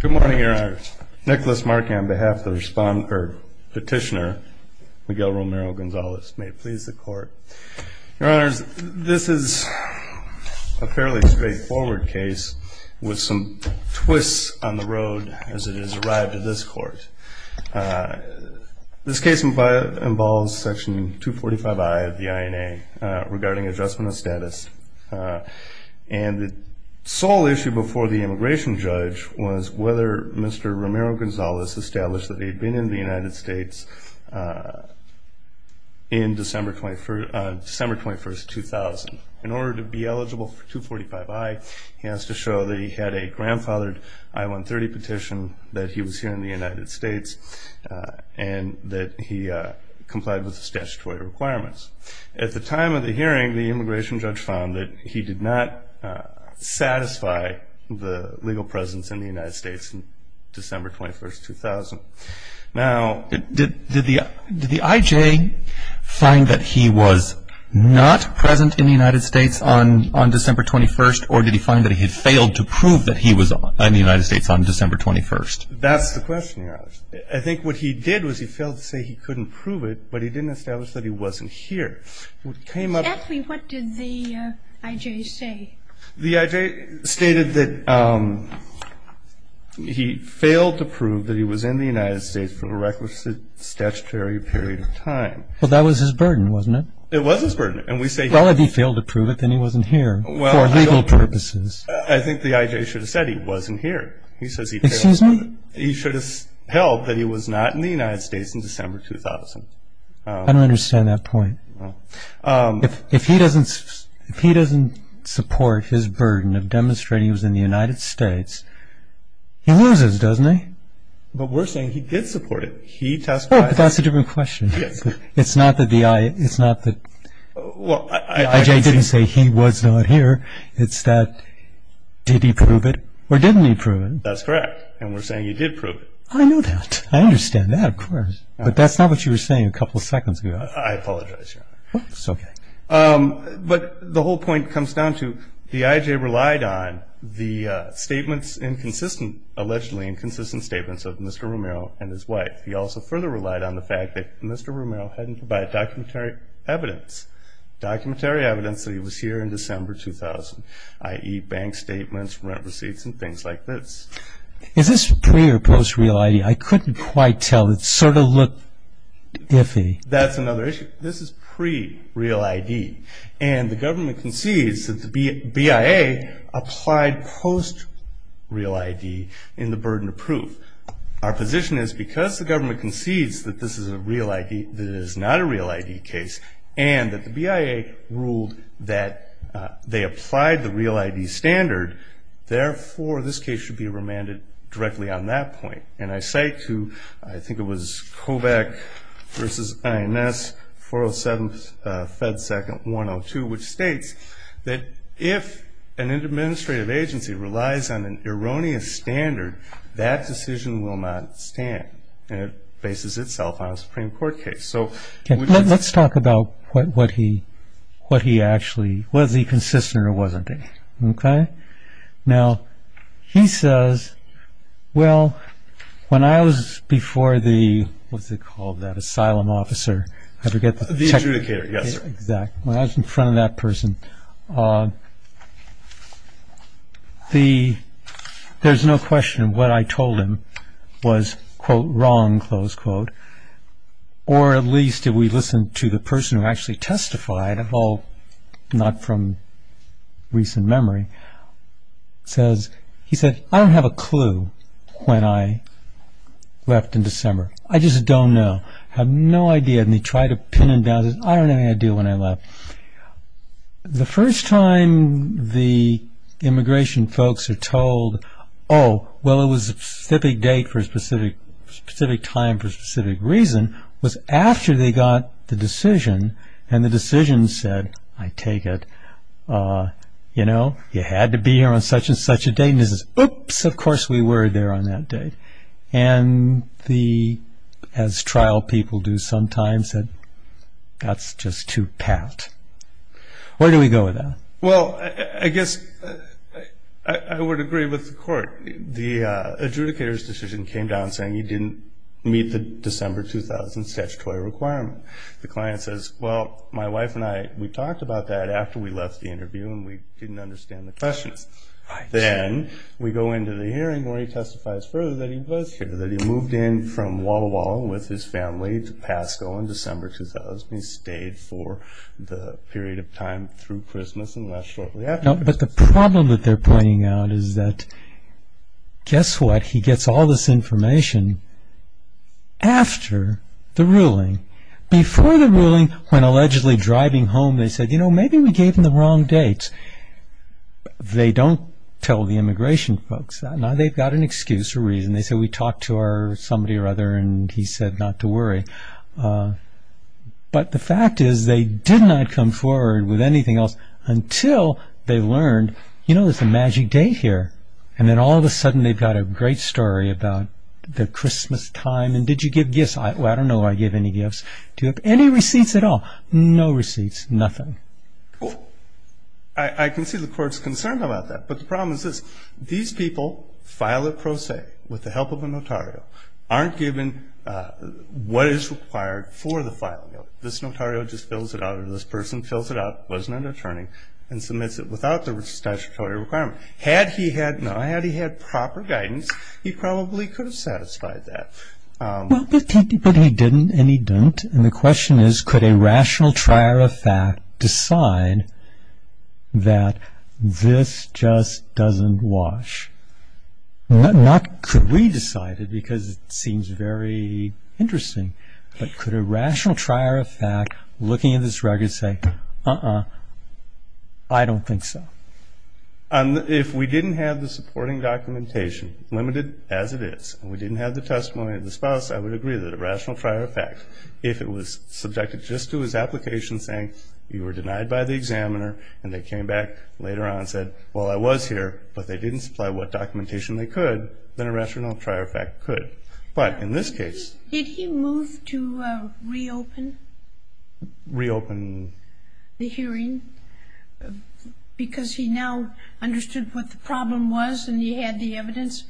Good morning, Your Honors. Nicholas Markey on behalf of the petitioner, Miguel Romero-Gonzalez, may it please the Court. Your Honors, this is a fairly straightforward case with some twists on the road as it has arrived at this Court. This case involves Section 245I of the INA regarding adjustment of status. And the sole issue before the immigration judge was whether Mr. Romero-Gonzalez established that he had been in the United States in December 21, 2000. In order to be eligible for 245I, he has to show that he had a grandfathered I-130 petition, that he was here in the United States, and that he complied with the statutory requirements. At the time of the hearing, the immigration judge found that he did not satisfy the legal presence in the United States on December 21, 2000. Now, did the IJ find that he was not present in the United States on December 21, or did he find that he had failed to prove that he was in the United States on December 21? That's the question, Your Honors. I think what he did was he failed to say he couldn't prove it, but he didn't establish that he wasn't here. What came up... Ask me what did the IJ say. The IJ stated that he failed to prove that he was in the United States for a requisite statutory period of time. Well, that was his burden, wasn't it? It was his burden, and we say he... Well, if he failed to prove it, then he wasn't here for legal purposes. I think the IJ should have said he wasn't here. He says he failed to... Excuse me? He should have held that he was not in the United States in December 2000. I don't understand that point. If he doesn't support his burden of demonstrating he was in the United States, he loses, doesn't he? But we're saying he did support it. He testified... Well, but that's a different question. It's not that the IJ didn't say he was not here. It's that did he prove it or didn't he prove it? That's correct, and we're saying he did prove it. I know that. I understand that, of course. But that's not what you were saying a couple of seconds ago. I apologize, Your Honor. It's okay. But the whole point comes down to the IJ relied on the statements, allegedly inconsistent statements of Mr. Romero and his wife. He also further relied on the fact that Mr. Romero hadn't provided documentary evidence. Documentary evidence that he was here in December 2000, i.e. bank statements, rent receipts, and things like this. Is this pre- or post-real ID? I couldn't quite tell. It sort of looked iffy. That's another issue. This is pre-real ID, and the government concedes that the BIA applied post-real ID in the burden of proof. Our position is because the government concedes that this is a real ID, and that the BIA ruled that they applied the real ID standard, therefore this case should be remanded directly on that point. And I cite to, I think it was COVAC v. INS, 407 Fed 2nd, 102, which states that if an administrative agency relies on an erroneous standard, that decision will not stand, and it bases itself on a Supreme Court case. Let's talk about what he actually – was he consistent or wasn't he? Okay? Now, he says, well, when I was before the – what's it called, that asylum officer? The adjudicator, yes, sir. Exactly. When I was in front of that person, there's no question what I told him was, quote, wrong, close quote, or at least if we listen to the person who actually testified, although not from recent memory, says – he said, I don't have a clue when I left in December. I just don't know. I have no idea, and he tried to pin it down, I don't have any idea when I left. The first time the immigration folks are told, oh, well, it was a specific date for a specific time for a specific reason, was after they got the decision, and the decision said, I take it, you know, you had to be here on such and such a date, and he says, oops, of course we were there on that date. And the – as trial people do sometimes, that's just too pat. Where do we go with that? Well, I guess I would agree with the court. The adjudicator's decision came down saying he didn't meet the December 2000 statutory requirement. The client says, well, my wife and I, we talked about that after we left the interview and we didn't understand the question. Then we go into the hearing where he testifies further that he was here, that he moved in from Walla Walla with his family to Pasco in December 2000. He supposedly stayed for the period of time through Christmas and left shortly after. But the problem that they're pointing out is that, guess what? He gets all this information after the ruling. Before the ruling, when allegedly driving home, they said, you know, maybe we gave them the wrong dates. They don't tell the immigration folks that. Now they've got an excuse or reason. They say we talked to somebody or other and he said not to worry. But the fact is they did not come forward with anything else until they learned, you know, there's a magic date here. And then all of a sudden they've got a great story about the Christmas time. And did you give gifts? Well, I don't know if I gave any gifts. Do you have any receipts at all? No receipts, nothing. I can see the court's concerned about that. But the problem is this. These people file it pro se with the help of a notario. Aren't given what is required for the filing of it. This notario just fills it out or this person fills it out, wasn't an attorney, and submits it without the statutory requirement. Had he had proper guidance, he probably could have satisfied that. But he didn't and he don't. And the question is could a rational trier of fact decide that this just doesn't wash? Not could we decide it because it seems very interesting, but could a rational trier of fact looking at this record say, uh-uh, I don't think so. If we didn't have the supporting documentation, limited as it is, and we didn't have the testimony of the spouse, I would agree that a rational trier of fact, if it was subjected just to his application saying you were denied by the examiner and they came back later on and said, well, I was here, but they didn't supply what documentation they could, then a rational trier of fact could. But in this case. Did he move to reopen? Reopen. The hearing? Because he now understood what the problem was and he had the evidence?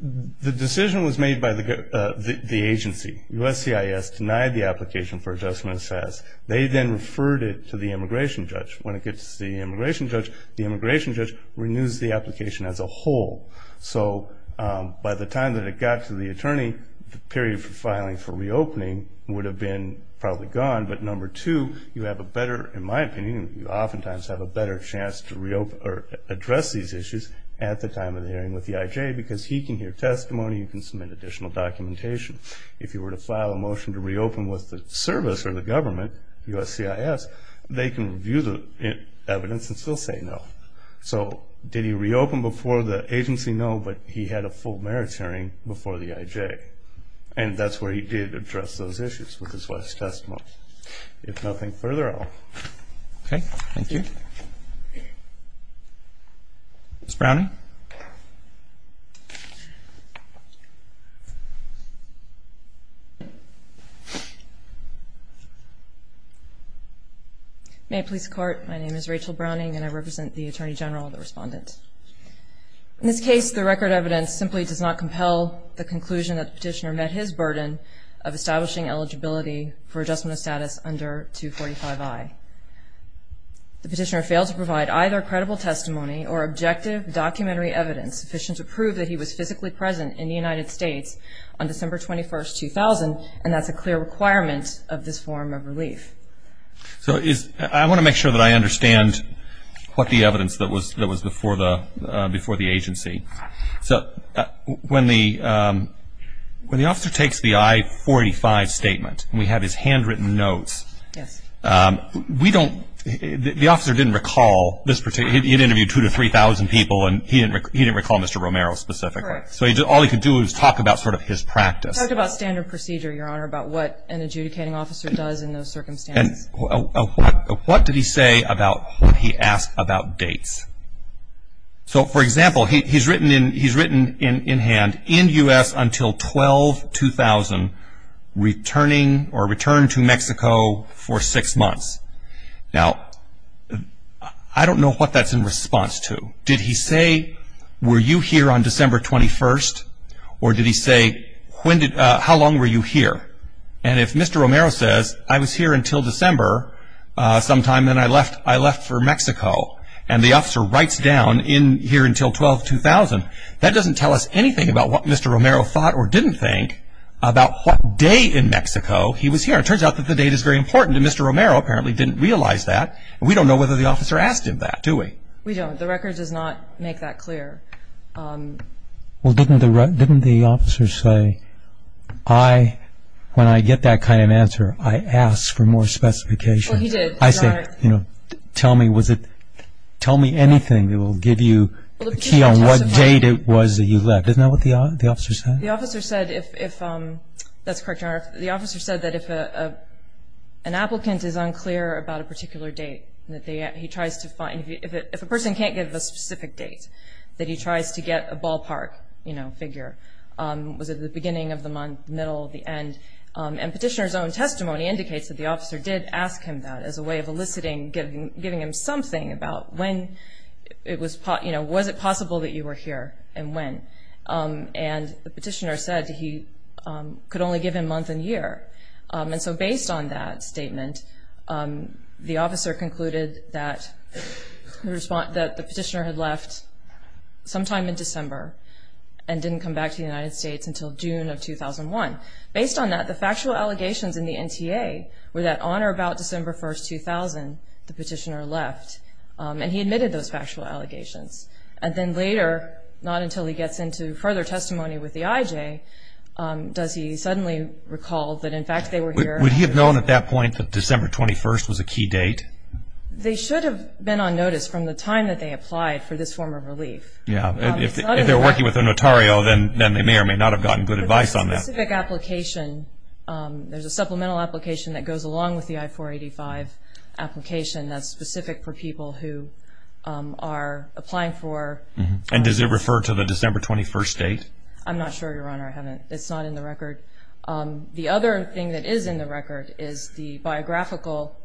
The decision was made by the agency. USCIS denied the application for adjustment of status. They then referred it to the immigration judge. When it gets to the immigration judge, the immigration judge renews the application as a whole. So by the time that it got to the attorney, the period for filing for reopening would have been probably gone. But number two, you have a better, in my opinion, you oftentimes have a better chance to address these issues at the time of the hearing with the IJ because he can hear testimony, you can submit additional documentation. If you were to file a motion to reopen with the service or the government, USCIS, they can review the evidence and still say no. So did he reopen before the agency? No, but he had a full merits hearing before the IJ, and that's where he did address those issues with his wife's testimony. If nothing further, I'll. Okay. Thank you. Ms. Browning. May it please the Court. My name is Rachel Browning, and I represent the Attorney General and the Respondent. In this case, the record evidence simply does not compel the conclusion that the petitioner met his burden of establishing eligibility for adjustment of status under 245I. The petitioner failed to provide either credible testimony or objective documentary evidence sufficient to prove that he was physically present in the United States on December 21, 2000, and that's a clear requirement of this form of relief. So I want to make sure that I understand what the evidence that was before the agency. So when the officer takes the I-45 statement, we have his handwritten notes. Yes. We don't, the officer didn't recall, he'd interviewed 2,000 to 3,000 people, and he didn't recall Mr. Romero specifically. Correct. So all he could do was talk about sort of his practice. He talked about standard procedure, Your Honor, about what an adjudicating officer does in those circumstances. And what did he say about what he asked about dates? So, for example, he's written in hand, in U.S. until 12-2000, returning or returned to Mexico for six months. Now, I don't know what that's in response to. Did he say, were you here on December 21st? Or did he say, how long were you here? And if Mr. Romero says, I was here until December sometime and I left for Mexico, and the officer writes down here until 12-2000, that doesn't tell us anything about what Mr. Romero thought or didn't think about what day in Mexico he was here. It turns out that the date is very important, and Mr. Romero apparently didn't realize that, and we don't know whether the officer asked him that, do we? We don't. The record does not make that clear. Well, didn't the officer say, I, when I get that kind of answer, I ask for more specification. Well, he did, Your Honor. Tell me, was it, tell me anything that will give you a key on what date it was that he left. Isn't that what the officer said? The officer said if, that's correct, Your Honor, the officer said that if an applicant is unclear about a particular date, that he tries to find, if a person can't give a specific date, that he tries to get a ballpark, you know, figure. Was it the beginning of the month, middle, the end? And petitioner's own testimony indicates that the officer did ask him that as a way of eliciting, giving him something about when it was, you know, was it possible that you were here and when. And the petitioner said he could only give him month and year. And so based on that statement, the officer concluded that the petitioner had left sometime in December and didn't come back to the United States until June of 2001. Based on that, the factual allegations in the NTA were that on or about December 1st, 2000, the petitioner left and he admitted those factual allegations. And then later, not until he gets into further testimony with the IJ, does he suddenly recall that in fact they were here. Would he have known at that point that December 21st was a key date? They should have been on notice from the time that they applied for this form of relief. Yeah, if they were working with a notario, then they may or may not have gotten good advice on that. There's a specific application. There's a supplemental application that goes along with the I-485 application that's specific for people who are applying for. And does it refer to the December 21st date? I'm not sure, Your Honor. I haven't. It's not in the record. The other thing that is in the record is the biographical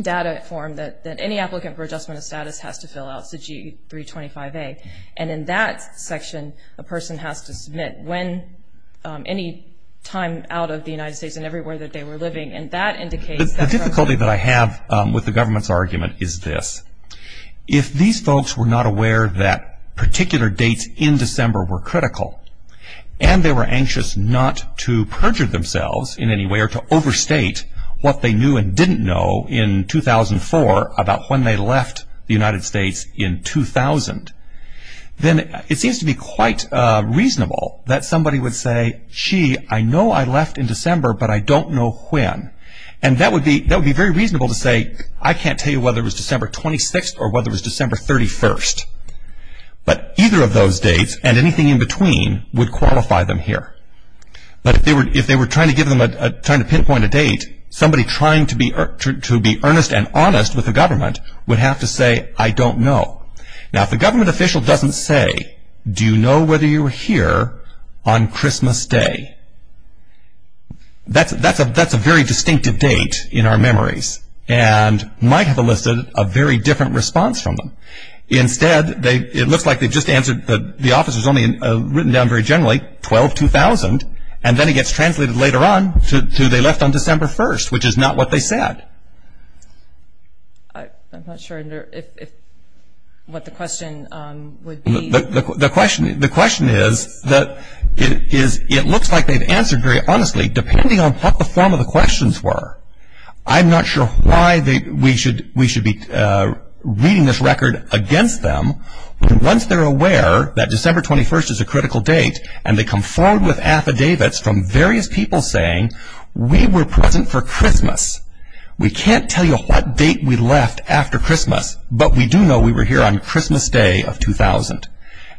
data form that any applicant for adjustment of status has to fill out. It's the G-325A. And in that section, a person has to submit when any time out of the United States and everywhere that they were living. And that indicates that the government... The difficulty that I have with the government's argument is this. If these folks were not aware that particular dates in December were critical and they were anxious not to perjure themselves in any way or to overstate what they knew and didn't know in 2004 about when they left the United States in 2000, then it seems to be quite reasonable that somebody would say, gee, I know I left in December, but I don't know when. And that would be very reasonable to say, I can't tell you whether it was December 26th or whether it was December 31st. But either of those dates and anything in between would qualify them here. But if they were trying to pinpoint a date, somebody trying to be earnest and honest with the government would have to say, I don't know. Now, if the government official doesn't say, do you know whether you were here on Christmas Day? That's a very distinctive date in our memories and might have elicited a very different response from them. Instead, it looks like they just answered... The office was only written down very generally, 12-2000, and then it gets translated later on to they left on December 1st, which is not what they said. I'm not sure what the question would be. The question is that it looks like they've answered very honestly, depending on what the form of the questions were. I'm not sure why we should be reading this record against them. Once they're aware that December 21st is a critical date and they come forward with affidavits from various people saying, we were present for Christmas. We can't tell you what date we left after Christmas, but we do know we were here on Christmas Day of 2000.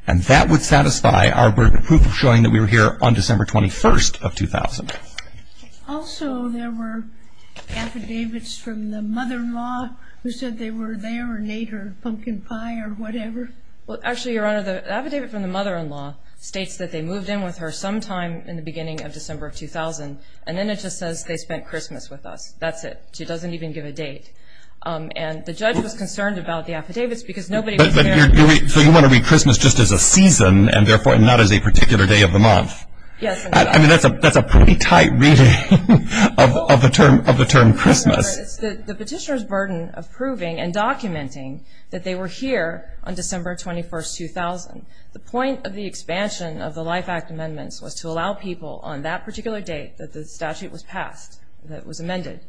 That would satisfy our proof of showing that we were here on December 21st of 2000. Also, there were affidavits from the mother-in-law who said they were there and ate her pumpkin pie or whatever. The mother-in-law states that they moved in with her sometime in the beginning of December 2000, and then it just says they spent Christmas with us. That's it. She doesn't even give a date. The judge was concerned about the affidavits because nobody was there. So you want to read Christmas just as a season and therefore not as a particular day of the month? Yes. That's a pretty tight reading of the term Christmas. It's the petitioner's burden of proving and documenting that they were here on December 21st, 2000. The point of the expansion of the Life Act amendments was to allow people on that particular date that the statute was passed, that it was amended,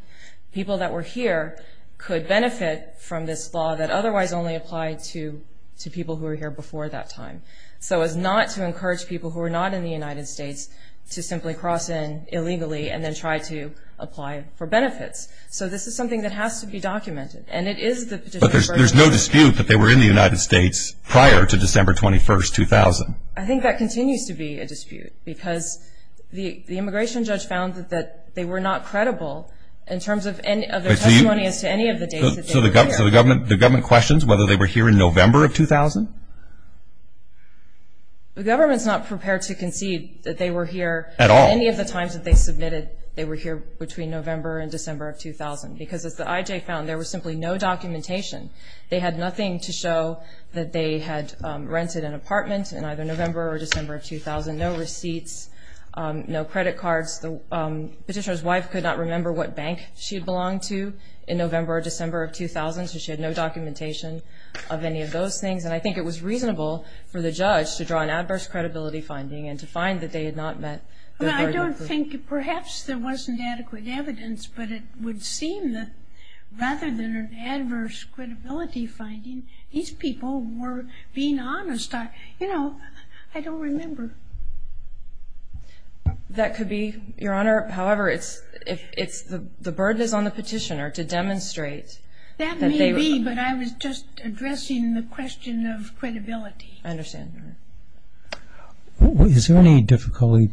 people that were here could benefit from this law that otherwise only applied to people who were here before that time. So it was not to encourage people who were not in the United States to simply cross in illegally and then try to apply for benefits. So this is something that has to be documented, and it is the petitioner's burden. But there's no dispute that they were in the United States prior to December 21st, 2000. I think that continues to be a dispute because the immigration judge found that they were not credible in terms of their testimony as to any of the dates that they were here. So the government questions whether they were here in November of 2000? The government's not prepared to concede that they were here at any of the times that they submitted they were here between November and December of 2000 because, as the IJ found, there was simply no documentation. They had nothing to show that they had rented an apartment in either November or December of 2000, no receipts, no credit cards. The petitioner's wife could not remember what bank she had belonged to in November or December of 2000, so she had no documentation of any of those things. And I think it was reasonable for the judge to draw an adverse credibility finding and to find that they had not met their burden. Well, I don't think perhaps there wasn't adequate evidence, but it would seem that rather than an adverse credibility finding, these people were being honest. You know, I don't remember. That could be, Your Honor. However, it's the burden is on the petitioner to demonstrate. That may be, but I was just addressing the question of credibility. I understand. Is there any difficulty?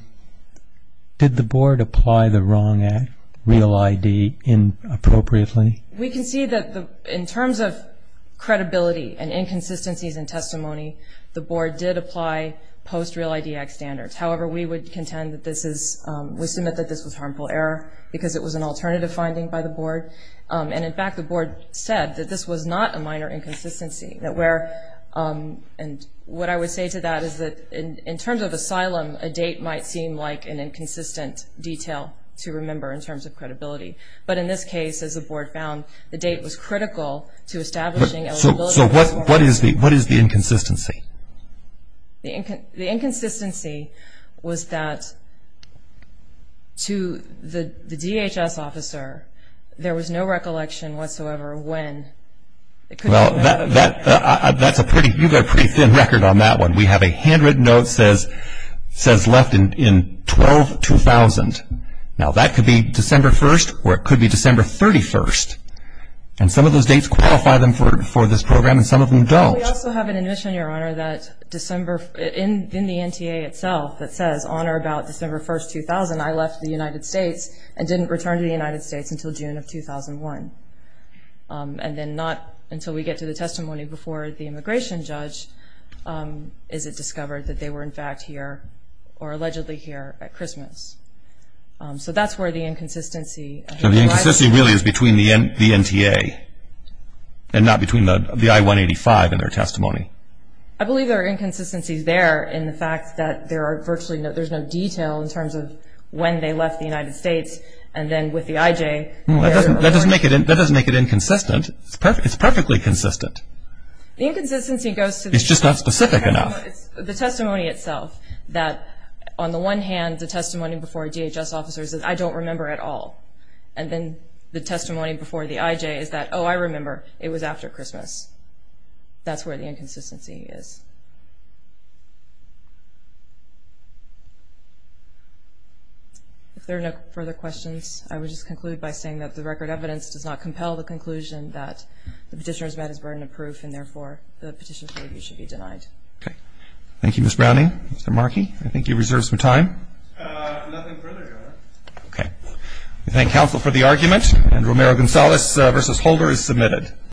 Did the Board apply the wrong Act, Real ID, inappropriately? We can see that in terms of credibility and inconsistencies in testimony, the Board did apply post-Real ID Act standards. However, we would contend that this is we submit that this was harmful error because it was an alternative finding by the Board. And, in fact, the Board said that this was not a minor inconsistency, and what I would say to that is that in terms of asylum, a date might seem like an inconsistent detail to remember in terms of credibility. But in this case, as the Board found, the date was critical to establishing. So what is the inconsistency? The inconsistency was that to the DHS officer, there was no recollection whatsoever when. Well, you've got a pretty thin record on that one. We have a handwritten note that says left in 12-2000. Now, that could be December 1st, or it could be December 31st. And some of those dates qualify them for this program, and some of them don't. We also have an admission, Your Honor, in the NTA itself that says, Honor, about December 1st, 2000, I left the United States and didn't return to the United States until June of 2001. And then not until we get to the testimony before the immigration judge is it discovered that they were, in fact, here or allegedly here at Christmas. So that's where the inconsistency lies. So the inconsistency really is between the NTA and not between the I-185 and their testimony. I believe there are inconsistencies there in the fact that there's no detail in terms of when they left the United States and then with the IJ. That doesn't make it inconsistent. It's perfectly consistent. The inconsistency goes to the testimony itself. It's just not specific enough. On the one hand, the testimony before a DHS officer says, I don't remember at all. And then the testimony before the IJ is that, oh, I remember. It was after Christmas. That's where the inconsistency is. If there are no further questions, I would just conclude by saying that the record evidence does not compel the conclusion that the petitioner's med is burden of proof and, therefore, the petition's review should be denied. Okay. Thank you, Ms. Browning. Mr. Markey, I think you reserved some time. Nothing further, Your Honor. Okay. We thank counsel for the argument, and Romero-Gonzalez v. Holder is submitted.